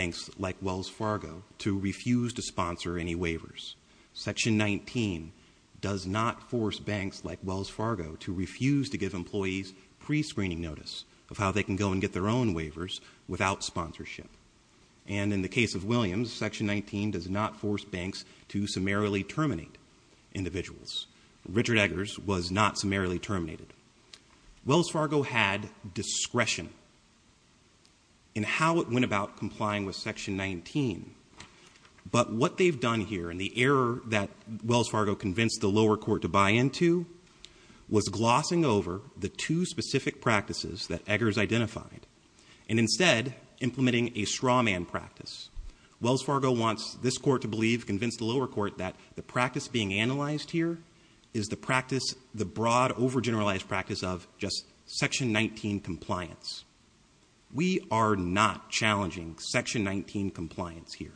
Section 19 does not force banks like Wells Fargo to refuse to give employees pre-screening notice of how they can go and get their own waivers without sponsorship. And in the case of Williams, Section 19 does not force banks to summarily terminate individuals. Richard Eggers was not summarily terminated. Wells Fargo had discretion in how it went about complying with Section 19. But what they've done here, and the error that Wells Fargo convinced the lower court to buy into, was glossing over the two specific practices that Eggers identified. And instead, implementing a straw man practice. Wells Fargo wants this court to believe, convince the lower court that the practice being analyzed here is the practice, the broad over-generalized practice of just Section 19 compliance. We are not challenging Section 19 compliance here.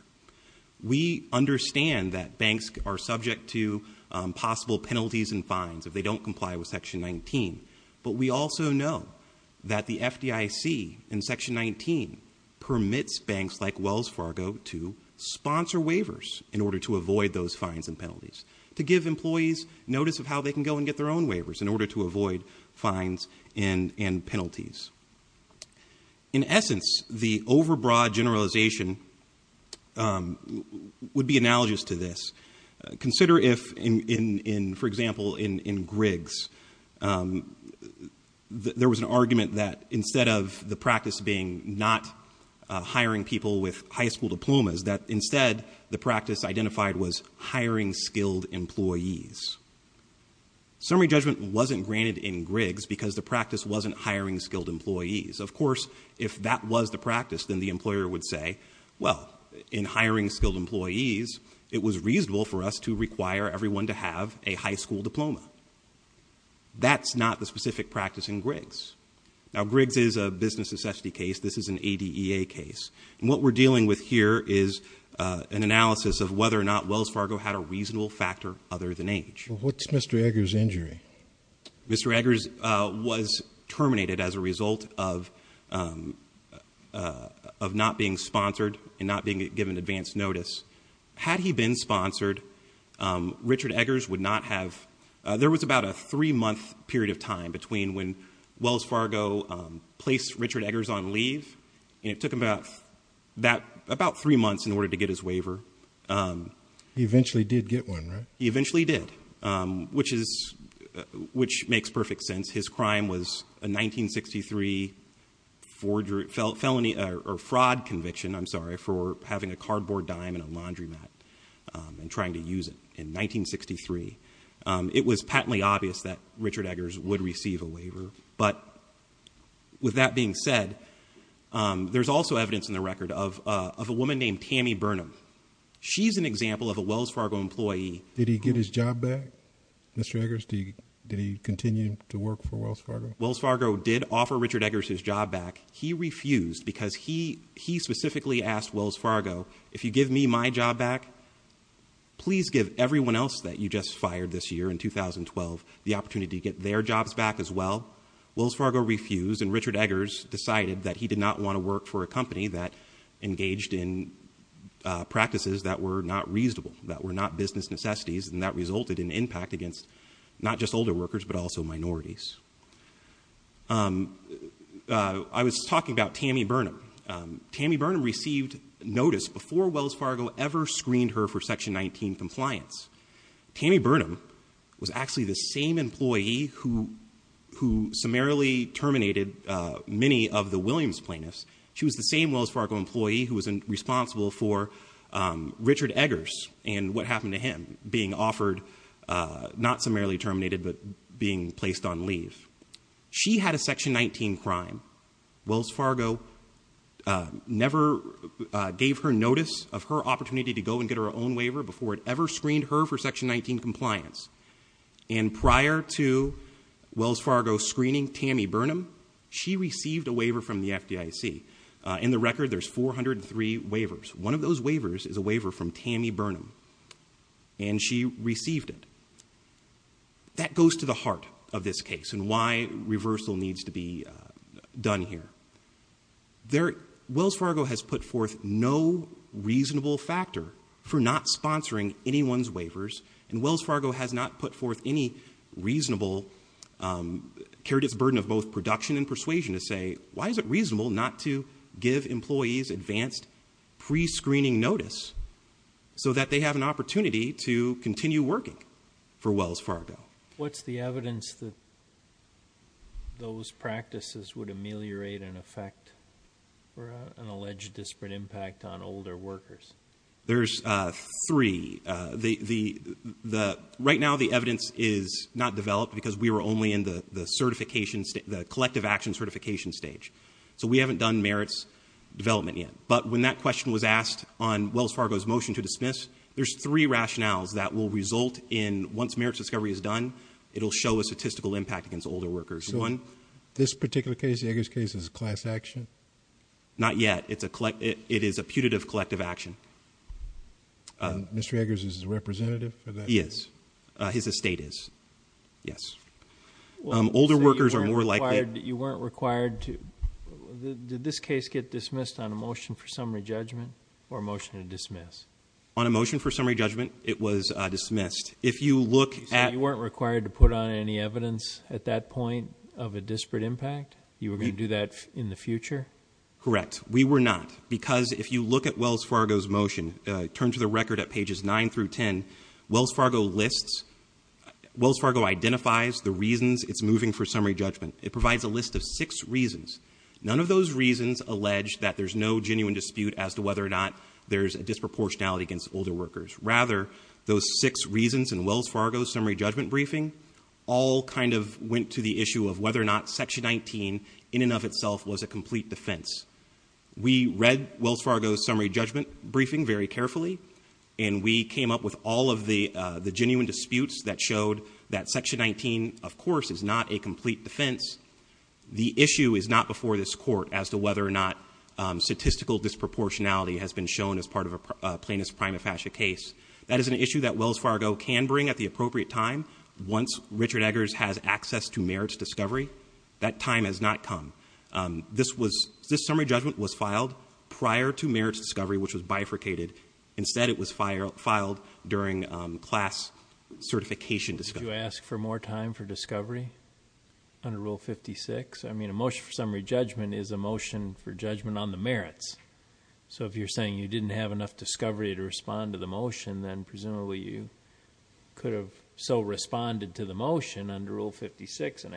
We understand that banks are subject to possible penalties and fines if they don't comply with Section 19. But we also know that the FDIC in Section 19 permits banks like Wells Fargo to sponsor waivers in order to avoid those fines and penalties. To give employees notice of how they can go and get their own waivers in order to avoid fines and penalties. In essence, the over-broad generalization would be analogous to this. Consider if, for example, in Griggs, there was an argument that instead of the practice being not hiring people with high school diplomas, that instead the practice identified was hiring skilled employees. Summary judgment wasn't granted in Griggs because the practice wasn't hiring skilled employees. Of course, if that was the practice, then the employer would say, well, in hiring skilled employees, it was reasonable for us to require everyone to have a high school diploma. That's not the specific practice in Griggs. Now, Griggs is a business necessity case. This is an ADEA case. What we're dealing with here is an analysis of whether or not Wells Fargo had a reasonable factor other than age. What's Mr. Eggers' injury? Mr. Eggers was terminated as a result of not being sponsored and not being given advance notice. Had he been sponsored, Richard Eggers would not have, there was about a three month period of time between when Wells Fargo placed Richard Eggers on leave. And it took him about three months in order to get his waiver. He eventually did get one, right? He eventually did, which makes perfect sense. His crime was a 1963 fraud conviction, I'm sorry, for having a cardboard dime in a laundromat and trying to use it in 1963. It was patently obvious that Richard Eggers would receive a waiver. But with that being said, there's also evidence in the record of a woman named Tammy Burnham. She's an example of a Wells Fargo employee- Did he get his job back, Mr. Eggers? Did he continue to work for Wells Fargo? Wells Fargo did offer Richard Eggers his job back. He refused because he specifically asked Wells Fargo, if you give me my job back, please give everyone else that you just fired this year in 2012 the opportunity to get their jobs back as well. Wells Fargo refused, and Richard Eggers decided that he did not want to work for a company that engaged in practices that were not reasonable, that were not business necessities. And that resulted in impact against not just older workers, but also minorities. I was talking about Tammy Burnham. Tammy Burnham received notice before Wells Fargo ever screened her for Section 19 compliance. Tammy Burnham was actually the same employee who summarily terminated many of the Williams plaintiffs. She was the same Wells Fargo employee who was responsible for Richard Eggers and what happened to him being offered, not summarily terminated, but being placed on leave. She had a Section 19 crime. Wells Fargo never gave her notice of her opportunity to go and get her own waiver before it ever screened her for Section 19 compliance. And prior to Wells Fargo screening Tammy Burnham, she received a waiver from the FDIC. In the record, there's 403 waivers. One of those waivers is a waiver from Tammy Burnham, and she received it. That goes to the heart of this case and why reversal needs to be done here. Wells Fargo has put forth no reasonable factor for not sponsoring anyone's waivers. And Wells Fargo has not put forth any reasonable, carried its burden of both production and persuasion to say, why is it reasonable not to give employees advanced pre-screening notice? So that they have an opportunity to continue working for Wells Fargo. What's the evidence that those practices would ameliorate and affect an alleged disparate impact on older workers? There's three. Right now the evidence is not developed because we were only in the collective action certification stage. So we haven't done merits development yet. But when that question was asked on Wells Fargo's motion to dismiss, there's three rationales that will result in, once merits discovery is done, it'll show a statistical impact against older workers. One- This particular case, the Eggers case, is a class action? Not yet. It is a putative collective action. Mr. Eggers is the representative for that? He is. His estate is. Yes. Older workers are more likely- Did this case get dismissed on a motion for summary judgment or a motion to dismiss? On a motion for summary judgment, it was dismissed. If you look at- So you weren't required to put on any evidence at that point of a disparate impact? You were going to do that in the future? Correct. We were not. Because if you look at Wells Fargo's motion, turn to the record at pages nine through ten. Wells Fargo lists, Wells Fargo identifies the reasons it's moving for summary judgment. It provides a list of six reasons. None of those reasons allege that there's no genuine dispute as to whether or not there's a disproportionality against older workers. Rather, those six reasons in Wells Fargo's summary judgment briefing all kind of went to the issue of whether or not section 19 in and of itself was a complete defense. We read Wells Fargo's summary judgment briefing very carefully. And we came up with all of the genuine disputes that showed that section 19, of course, is not a complete defense. The issue is not before this court as to whether or not statistical disproportionality has been shown as part of a plaintiff's prima facie case. That is an issue that Wells Fargo can bring at the appropriate time once Richard Eggers has access to merits discovery. That time has not come. This summary judgment was filed prior to merits discovery, which was bifurcated. Instead, it was filed during class certification discovery. Did you ask for more time for discovery under Rule 56? I mean, a motion for summary judgment is a motion for judgment on the merits. So if you're saying you didn't have enough discovery to respond to the motion, then presumably you could have so responded to the motion under Rule 56 and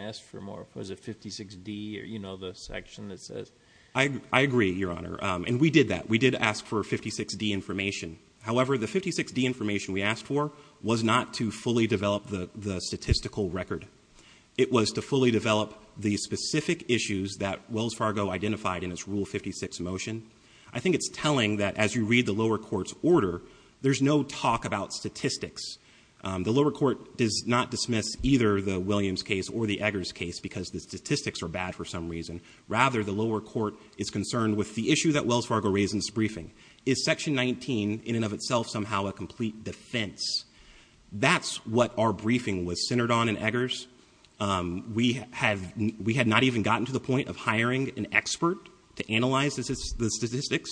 you know the section that says- I agree, Your Honor, and we did that. We did ask for 56D information. However, the 56D information we asked for was not to fully develop the statistical record. It was to fully develop the specific issues that Wells Fargo identified in its Rule 56 motion. I think it's telling that as you read the lower court's order, there's no talk about statistics. The lower court does not dismiss either the Williams case or the Eggers case because the statistics are bad for some reason. Rather, the lower court is concerned with the issue that Wells Fargo raised in its briefing. Is section 19 in and of itself somehow a complete defense? That's what our briefing was centered on in Eggers. We had not even gotten to the point of hiring an expert to analyze the statistics.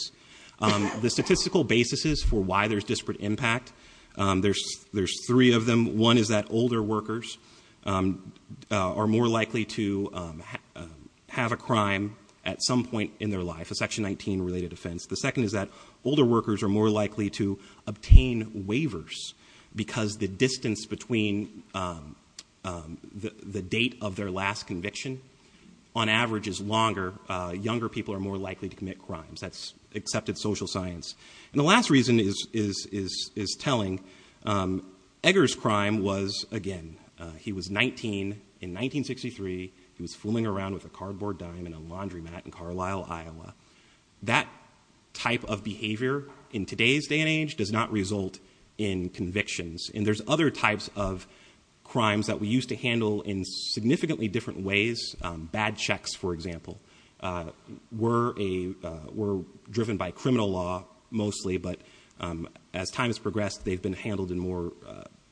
The statistical basis is for why there's disparate impact. There's three of them. One is that older workers are more likely to have a crime at some point in their life, a section 19 related offense. The second is that older workers are more likely to obtain waivers, because the distance between the date of their last conviction, on average is longer, younger people are more likely to commit crimes. That's accepted social science. And the last reason is telling. Eggers' crime was, again, he was 19 in 1963. He was fooling around with a cardboard dime in a laundromat in Carlisle, Iowa. That type of behavior in today's day and age does not result in convictions. And there's other types of crimes that we used to handle in significantly different ways. Bad checks, for example, were driven by criminal law mostly, but as time has progressed, they've been handled in more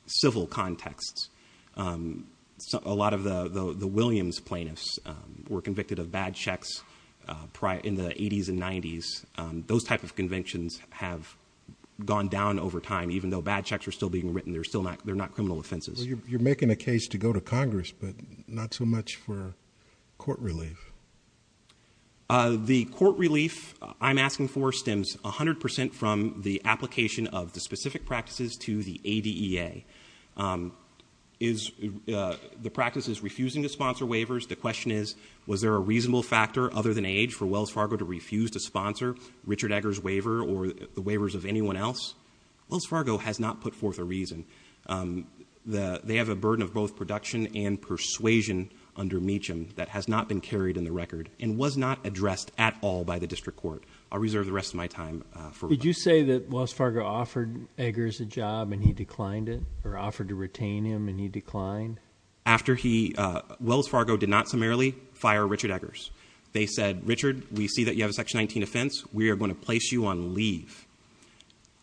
civil contexts. A lot of the Williams plaintiffs were convicted of bad checks in the 80s and 90s. Those type of convictions have gone down over time, even though bad checks are still being written. They're not criminal offenses. You're making a case to go to Congress, but not so much for court relief. The court relief I'm asking for stems 100% from the application of the specific practices to the ADEA. Is the practices refusing to sponsor waivers? The question is, was there a reasonable factor other than age for Wells Fargo to refuse to sponsor Richard Eggers' waiver or the waivers of anyone else? Wells Fargo has not put forth a reason. They have a burden of both production and persuasion under Meacham that has not been carried in the record and was not addressed at all by the district court. I'll reserve the rest of my time for- Did you say that Wells Fargo offered Eggers a job and he declined it, or offered to retain him and he declined? After he, Wells Fargo did not summarily fire Richard Eggers. They said, Richard, we see that you have a section 19 offense. We are going to place you on leave.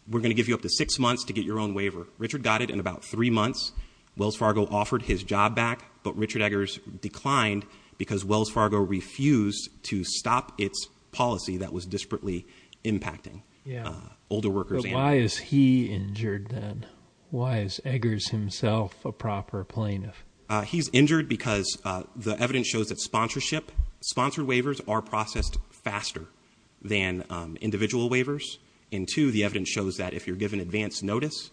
We're going to give you up to six months to get your own waiver. Richard got it in about three months. Wells Fargo offered his job back, but Richard Eggers declined because Wells Fargo refused to stop its policy that was disparately impacting older workers. But why is he injured then? Why is Eggers himself a proper plaintiff? He's injured because the evidence shows that sponsorship, sponsored waivers are processed faster than individual waivers. And two, the evidence shows that if you're given advance notice,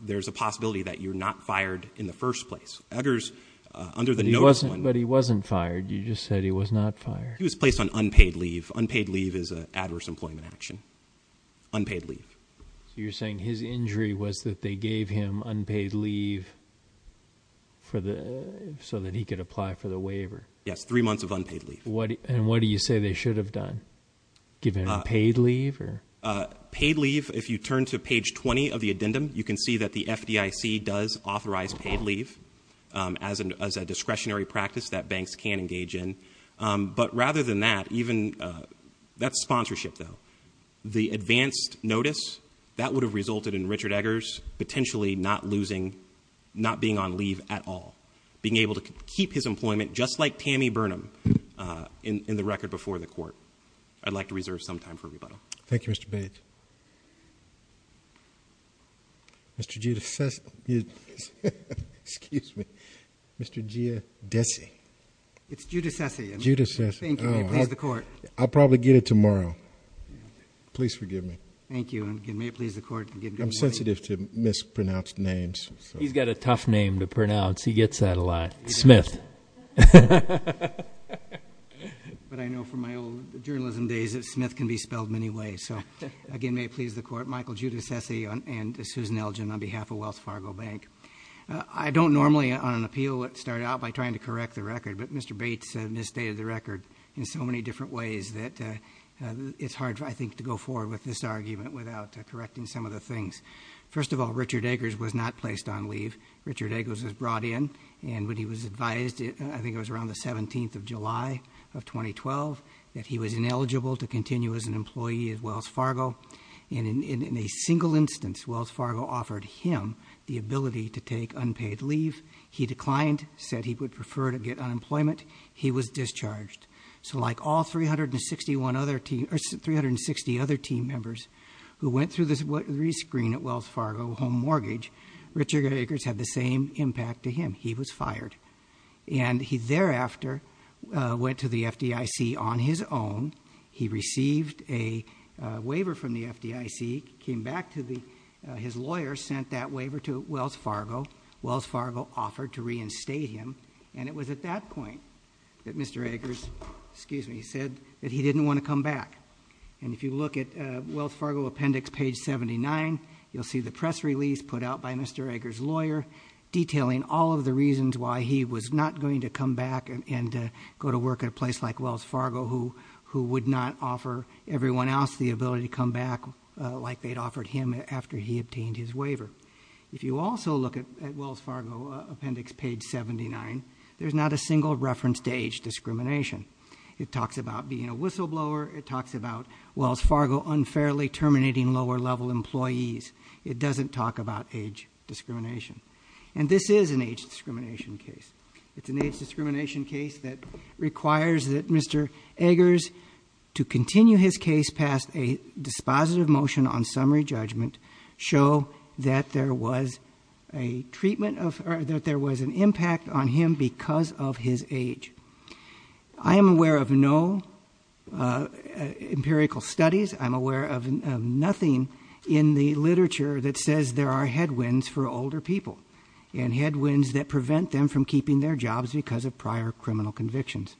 there's a possibility that you're not fired in the first place. Eggers, under the notice one- But he wasn't fired. You just said he was not fired. He was placed on unpaid leave. Unpaid leave is an adverse employment action. Unpaid leave. You're saying his injury was that they gave him unpaid leave so that he could apply for the waiver. Yes, three months of unpaid leave. And what do you say they should have done? Given unpaid leave or? Paid leave, if you turn to page 20 of the addendum, you can see that the FDIC does authorize paid leave as a discretionary practice that banks can engage in. But rather than that, even, that's sponsorship though. The advanced notice, that would have resulted in Richard Eggers potentially not being on leave at all. Being able to keep his employment, just like Tammy Burnham, in the record before the court. I'd like to reserve some time for rebuttal. Thank you, Mr. Bates. Mr. Giudice, excuse me, Mr. Giadesi. It's Giudicesi. Giudicesi. Thank you, may it please the court. I'll probably get it tomorrow. Please forgive me. Thank you, and may it please the court. I'm sensitive to mispronounced names. He's got a tough name to pronounce. He gets that a lot. Smith. But I know from my old journalism days that Smith can be spelled many ways. So again, may it please the court, Michael Giudicesi and Susan Elgin on behalf of Wells Fargo Bank. I don't normally on an appeal start out by trying to correct the record, but Mr. Bates misstated the record in so many different ways that it's hard, I think, to go forward with this argument without correcting some of the things. First of all, Richard Eggers was not placed on leave. Richard Eggers was brought in, and when he was advised, I think it was around the 17th of July of 2012, that he was ineligible to continue as an employee at Wells Fargo. And in a single instance, Wells Fargo offered him the ability to take unpaid leave. He declined, said he would prefer to get unemployment. He was discharged. So like all 360 other team members who went through the screen at Wells Fargo home mortgage, Richard Eggers had the same impact to him, he was fired. And he thereafter went to the FDIC on his own. He received a waiver from the FDIC, came back to his lawyer, sent that waiver to Wells Fargo. Wells Fargo offered to reinstate him, and it was at that point that Mr. Eggers, excuse me, said that he didn't want to come back. And if you look at Wells Fargo appendix page 79, you'll see the press release put out by Mr. Eggers' lawyer detailing all of the reasons why he was not going to come back and go to work at a place like Wells Fargo who would not offer everyone else the ability to come back like they'd offered him after he obtained his waiver. If you also look at Wells Fargo appendix page 79, there's not a single reference to age discrimination. It talks about being a whistleblower, it talks about Wells Fargo unfairly terminating lower level employees. It doesn't talk about age discrimination. And this is an age discrimination case. It's an age discrimination case that requires that Mr. Eggers, to continue his case past a dispositive motion on summary judgment, show that there was an impact on him because of his age. I am aware of no empirical studies. I'm aware of nothing in the literature that says there are headwinds for older people, and headwinds that prevent them from keeping their jobs because of prior criminal convictions.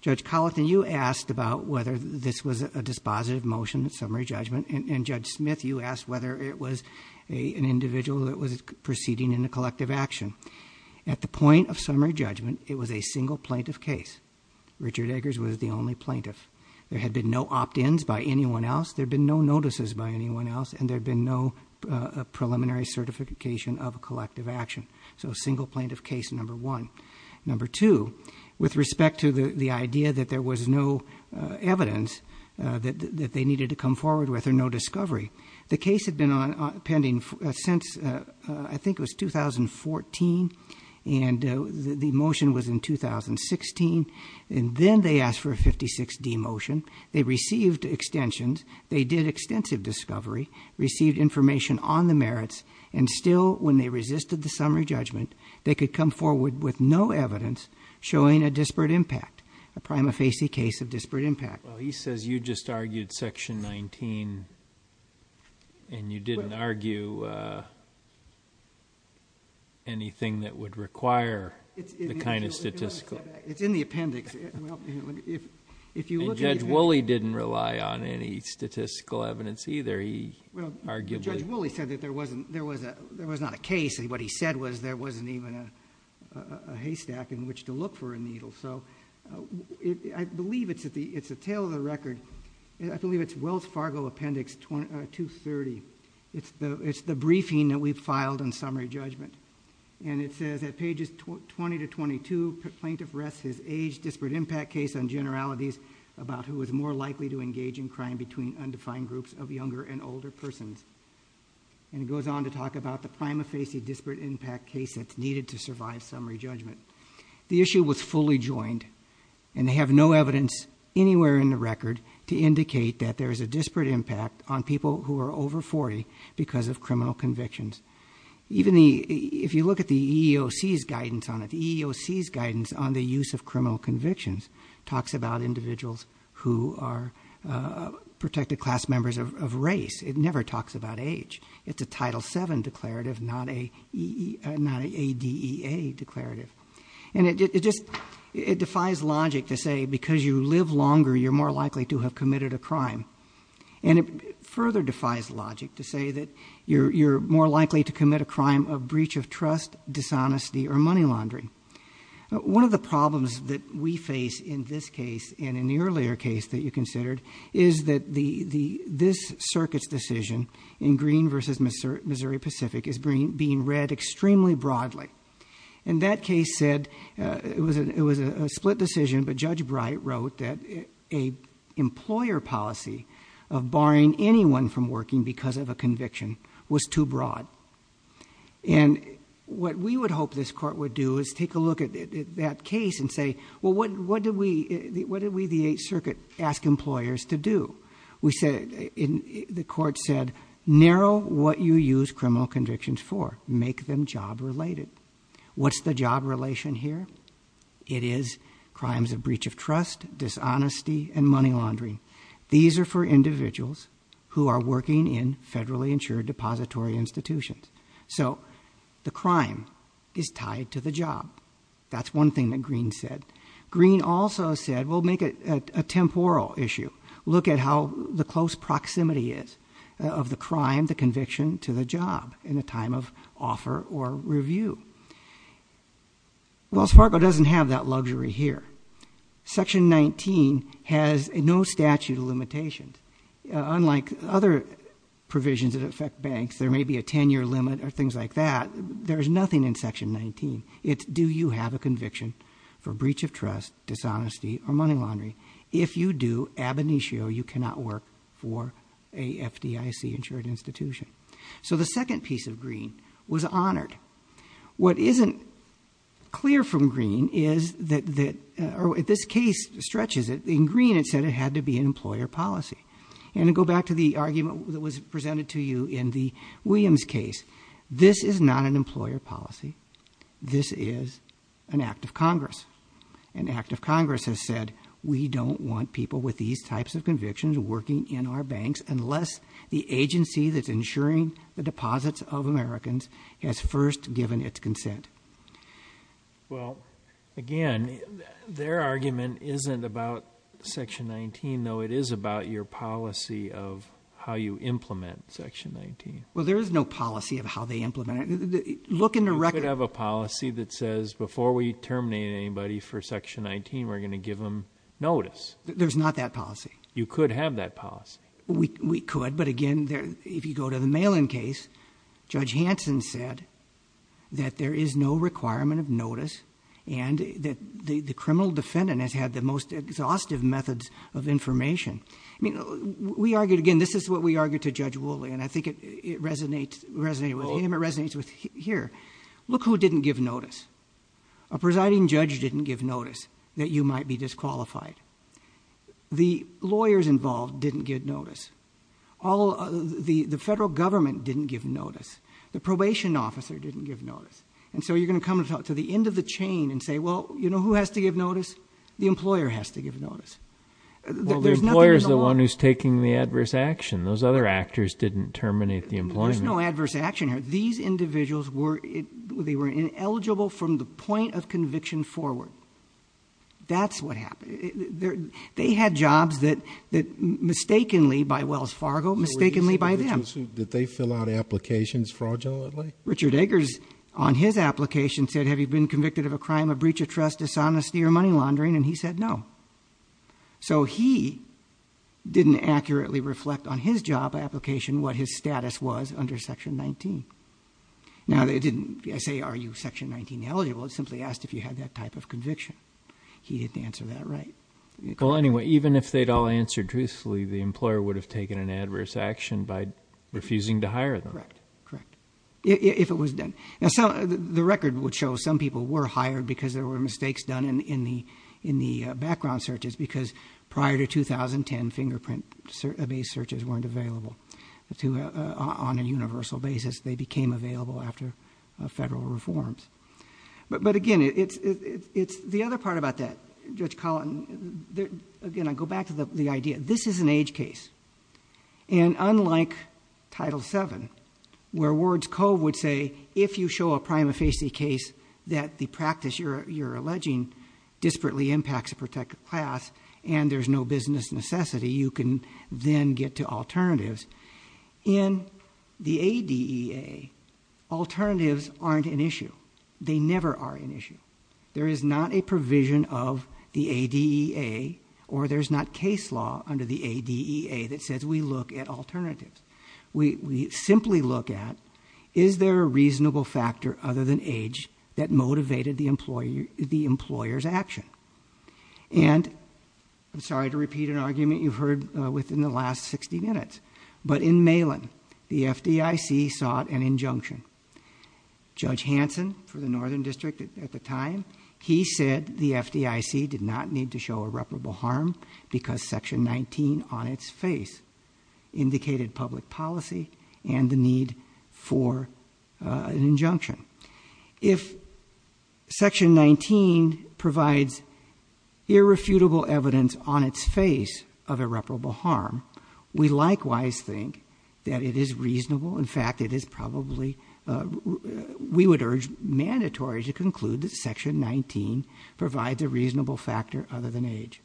Judge Colleton, you asked about whether this was a dispositive motion, summary judgment, and Judge Smith, you asked whether it was an individual that was proceeding in a collective action. At the point of summary judgment, it was a single plaintiff case. Richard Eggers was the only plaintiff. There had been no opt-ins by anyone else, there had been no notices by anyone else, and there had been no preliminary certification of a collective action. So a single plaintiff case, number one. Number two, with respect to the idea that there was no evidence that they needed to come forward with or no discovery. The case had been pending since, I think it was 2014, and the motion was in 2016, and then they asked for a 56D motion. They received extensions, they did extensive discovery, received information on the merits, and still, when they resisted the summary judgment, they could come forward with no evidence showing a disparate impact. A prima facie case of disparate impact. Well, he says you just argued section 19, and you didn't argue anything that would require the kind of statistical. It's in the appendix. Well, if you look at the appendix- And Judge Woolley didn't rely on any statistical evidence either. He argued that- Well, Judge Woolley said that there was not a case, and what he said was there wasn't even a haystack in which to look for a needle. So, I believe it's a tale of the record. I believe it's Wells Fargo Appendix 230. It's the briefing that we've filed on summary judgment. And it says at pages 20 to 22, plaintiff rests his age disparate impact case on generalities about who is more likely to engage in crime between undefined groups of younger and older persons. And it goes on to talk about the prima facie disparate impact case that's needed to survive summary judgment. The issue was fully joined, and they have no evidence anywhere in the record to indicate that there is a disparate impact on people who are over 40 because of criminal convictions. Even if you look at the EEOC's guidance on it, the EEOC's guidance on the use of criminal convictions talks about individuals who are protected class members of race. It never talks about age. It's a Title VII declarative, not a ADEA declarative. And it defies logic to say because you live longer, you're more likely to have committed a crime. And it further defies logic to say that you're more likely to commit a crime of breach of trust, dishonesty, or money laundering. One of the problems that we face in this case and in the earlier case that you considered is that this circuit's decision in Green versus Missouri Pacific is being read extremely broadly. And that case said, it was a split decision, but Judge Bright wrote that a employer policy of barring anyone from working because of a conviction was too broad. And what we would hope this court would do is take a look at that case and say, well, what did we, the Eighth Circuit, ask employers to do? We said, the court said, narrow what you use criminal convictions for, make them job related. What's the job relation here? It is crimes of breach of trust, dishonesty, and money laundering. These are for individuals who are working in federally insured depository institutions. So the crime is tied to the job. That's one thing that Green said. Green also said, we'll make it a temporal issue. Look at how the close proximity is of the crime, the conviction, to the job in the time of offer or review. Wells Fargo doesn't have that luxury here. Section 19 has no statute of limitations. Unlike other provisions that affect banks, there may be a ten year limit or things like that. There's nothing in section 19. Do you have a conviction for breach of trust, dishonesty, or money laundering? If you do, ab initio, you cannot work for a FDIC insured institution. So the second piece of Green was honored. What isn't clear from Green is that, or this case stretches it. In Green it said it had to be an employer policy. And to go back to the argument that was presented to you in the Williams case. This is not an employer policy. This is an act of Congress. An act of Congress has said, we don't want people with these types of convictions working in our banks, unless the agency that's insuring the deposits of Americans has first given its consent. Well, again, their argument isn't about section 19, though it is about your policy of how you implement section 19. Well, there is no policy of how they implement it. Look in the record. You could have a policy that says, before we terminate anybody for section 19, we're going to give them notice. There's not that policy. You could have that policy. We could, but again, if you go to the Malin case, Judge Hanson said that there is no requirement of notice. And that the criminal defendant has had the most exhaustive methods of information. I mean, we argued, again, this is what we argued to Judge Wooley, and I think it resonated with him, it resonates with here. Look who didn't give notice. A presiding judge didn't give notice that you might be disqualified. The lawyers involved didn't give notice. All of the federal government didn't give notice. The probation officer didn't give notice. And so you're going to come to the end of the chain and say, well, you know who has to give notice? The employer has to give notice. There's nothing in the law- Well, the employer's the one who's taking the adverse action. Those other actors didn't terminate the employment. There's no adverse action here. These individuals were, they were ineligible from the point of conviction forward. That's what happened. They had jobs that mistakenly, by Wells Fargo, mistakenly by them. Did they fill out applications fraudulently? Richard Eggers, on his application, said, have you been convicted of a crime of breach of trust, dishonesty, or money laundering, and he said no. So he didn't accurately reflect on his job application what his status was under Section 19. Now, it didn't say, are you Section 19 eligible? It simply asked if you had that type of conviction. He didn't answer that right. Well, anyway, even if they'd all answered truthfully, the employer would have taken an adverse action by refusing to hire them. Correct. Correct. If it was done. Now, the record would show some people were hired because there were mistakes done in the background searches because prior to 2010, fingerprint based searches weren't available on a universal basis. They became available after federal reforms. But again, it's the other part about that, Judge Collin, again, I go back to the idea. This is an age case, and unlike Title VII, where Words Cove would say, if you show a prima facie case that the practice you're alleging disparately impacts a protected class, and there's no business necessity, you can then get to alternatives. In the ADEA, alternatives aren't an issue. They never are an issue. There is not a provision of the ADEA, or there's not case law under the ADEA that says we look at alternatives. We simply look at, is there a reasonable factor other than age that motivated the employer's action? And, I'm sorry to repeat an argument you've heard within the last 60 minutes. But in Malin, the FDIC sought an injunction. Judge Hanson, for the Northern District at the time, he said the FDIC did not need to show irreparable harm. Because section 19 on its face indicated public policy and the need for an injunction. If section 19 provides irrefutable evidence on its face of irreparable harm, we likewise think that it is reasonable. In fact, it is probably, we would urge mandatory to conclude that section 19 provides a reasonable factor other than age.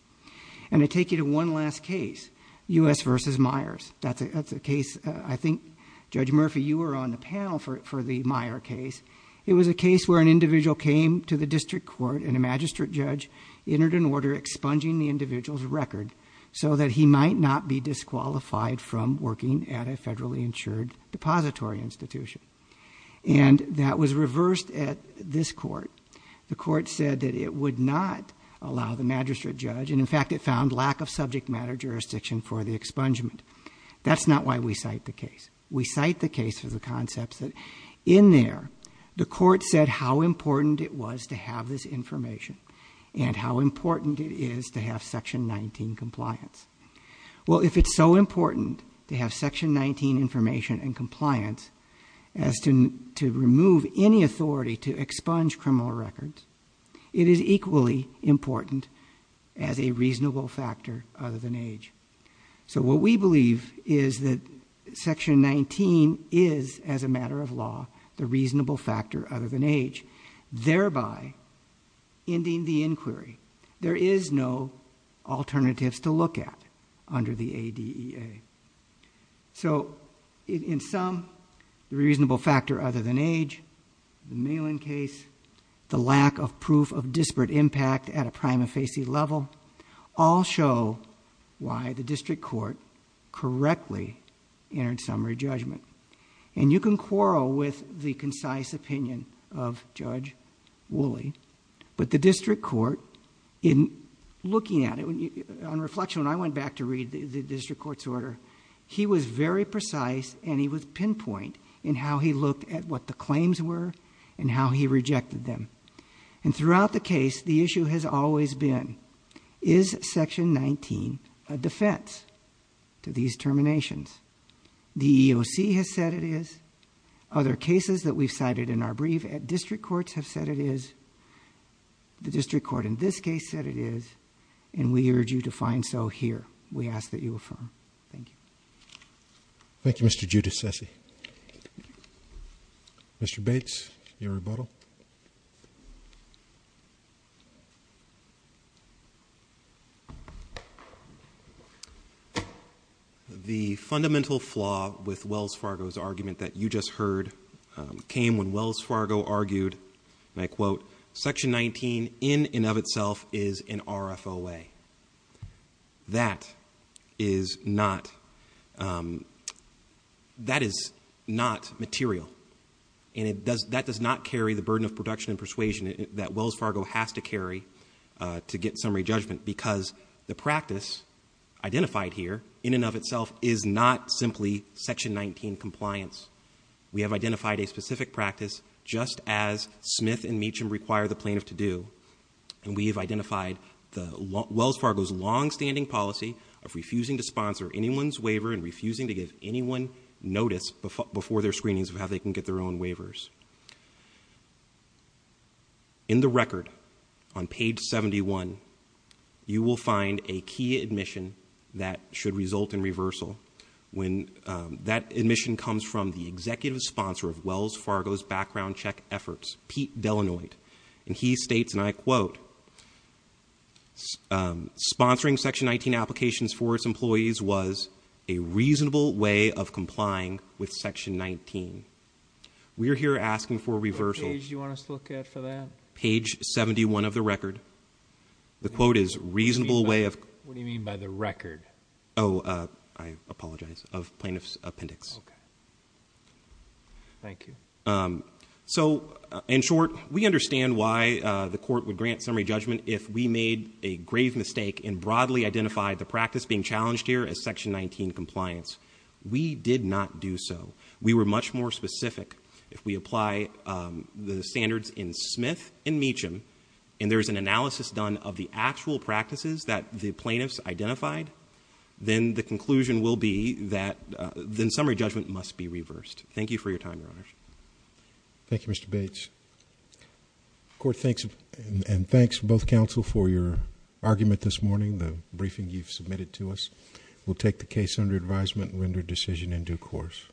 And I take you to one last case, US versus Myers. That's a case, I think, Judge Murphy, you were on the panel for the Meyer case. It was a case where an individual came to the district court and a magistrate judge entered an order expunging the individual's record. So that he might not be disqualified from working at a federally insured depository institution. And that was reversed at this court. The court said that it would not allow the magistrate judge, and in fact it found lack of subject matter jurisdiction for the expungement. That's not why we cite the case. We cite the case for the concepts that in there, the court said how important it was to have this information. And how important it is to have section 19 compliance. Well, if it's so important to have section 19 information and more records, it is equally important as a reasonable factor other than age. So what we believe is that section 19 is, as a matter of law, the reasonable factor other than age, thereby ending the inquiry. There is no alternatives to look at under the ADEA. So in sum, the reasonable factor other than age, the Malin case, the lack of proof of disparate impact at a prima facie level, all show why the district court correctly entered summary judgment. And you can quarrel with the concise opinion of Judge Woolley. But the district court, in looking at it, on reflection, when I went back to read the district court's order, he was very precise and he would pinpoint in how he looked at what the claims were and how he rejected them. And throughout the case, the issue has always been, is section 19 a defense to these terminations? The EOC has said it is. Other cases that we've cited in our brief at district courts have said it is. The district court in this case said it is. And we urge you to find so here. We ask that you affirm. Thank you. Thank you, Mr. Giudicessi. Mr. Bates, your rebuttal. The fundamental flaw with Wells Fargo's argument that you just heard came when Wells Fargo argued, and I quote, section 19 in and of itself is an RFOA. That is not, that is not material. And that does not carry the burden of production and persuasion that Wells Fargo has to carry to get summary judgment. Because the practice identified here, in and of itself, is not simply section 19 compliance. We have identified a specific practice, just as Smith and Meacham require the plaintiff to do. And we have identified Wells Fargo's longstanding policy of refusing to sponsor anyone's waiver and refusing to give anyone notice before their screenings of how they can get their own waivers. In the record, on page 71, you will find a key admission that should result in reversal. When that admission comes from the executive sponsor of Wells Fargo's background check efforts, Pete Delanoid. And he states, and I quote, sponsoring section 19 applications for its employees was a reasonable way of complying with section 19. We are here asking for reversal. What page do you want us to look at for that? Page 71 of the record. The quote is reasonable way of- What do you mean by the record? I apologize, of plaintiff's appendix. Okay, thank you. So, in short, we understand why the court would grant summary judgment if we made a grave mistake and broadly identified the practice being challenged here as section 19 compliance. We did not do so. We were much more specific. If we apply the standards in Smith and Meacham, and there's an analysis done of the actual practices that the plaintiffs identified, then the conclusion will be that the summary judgment must be reversed. Thank you for your time, your honors. Thank you, Mr. Bates. Court, thanks, and thanks both counsel for your argument this morning, the briefing you've submitted to us. We'll take the case under advisement and render decision in due course.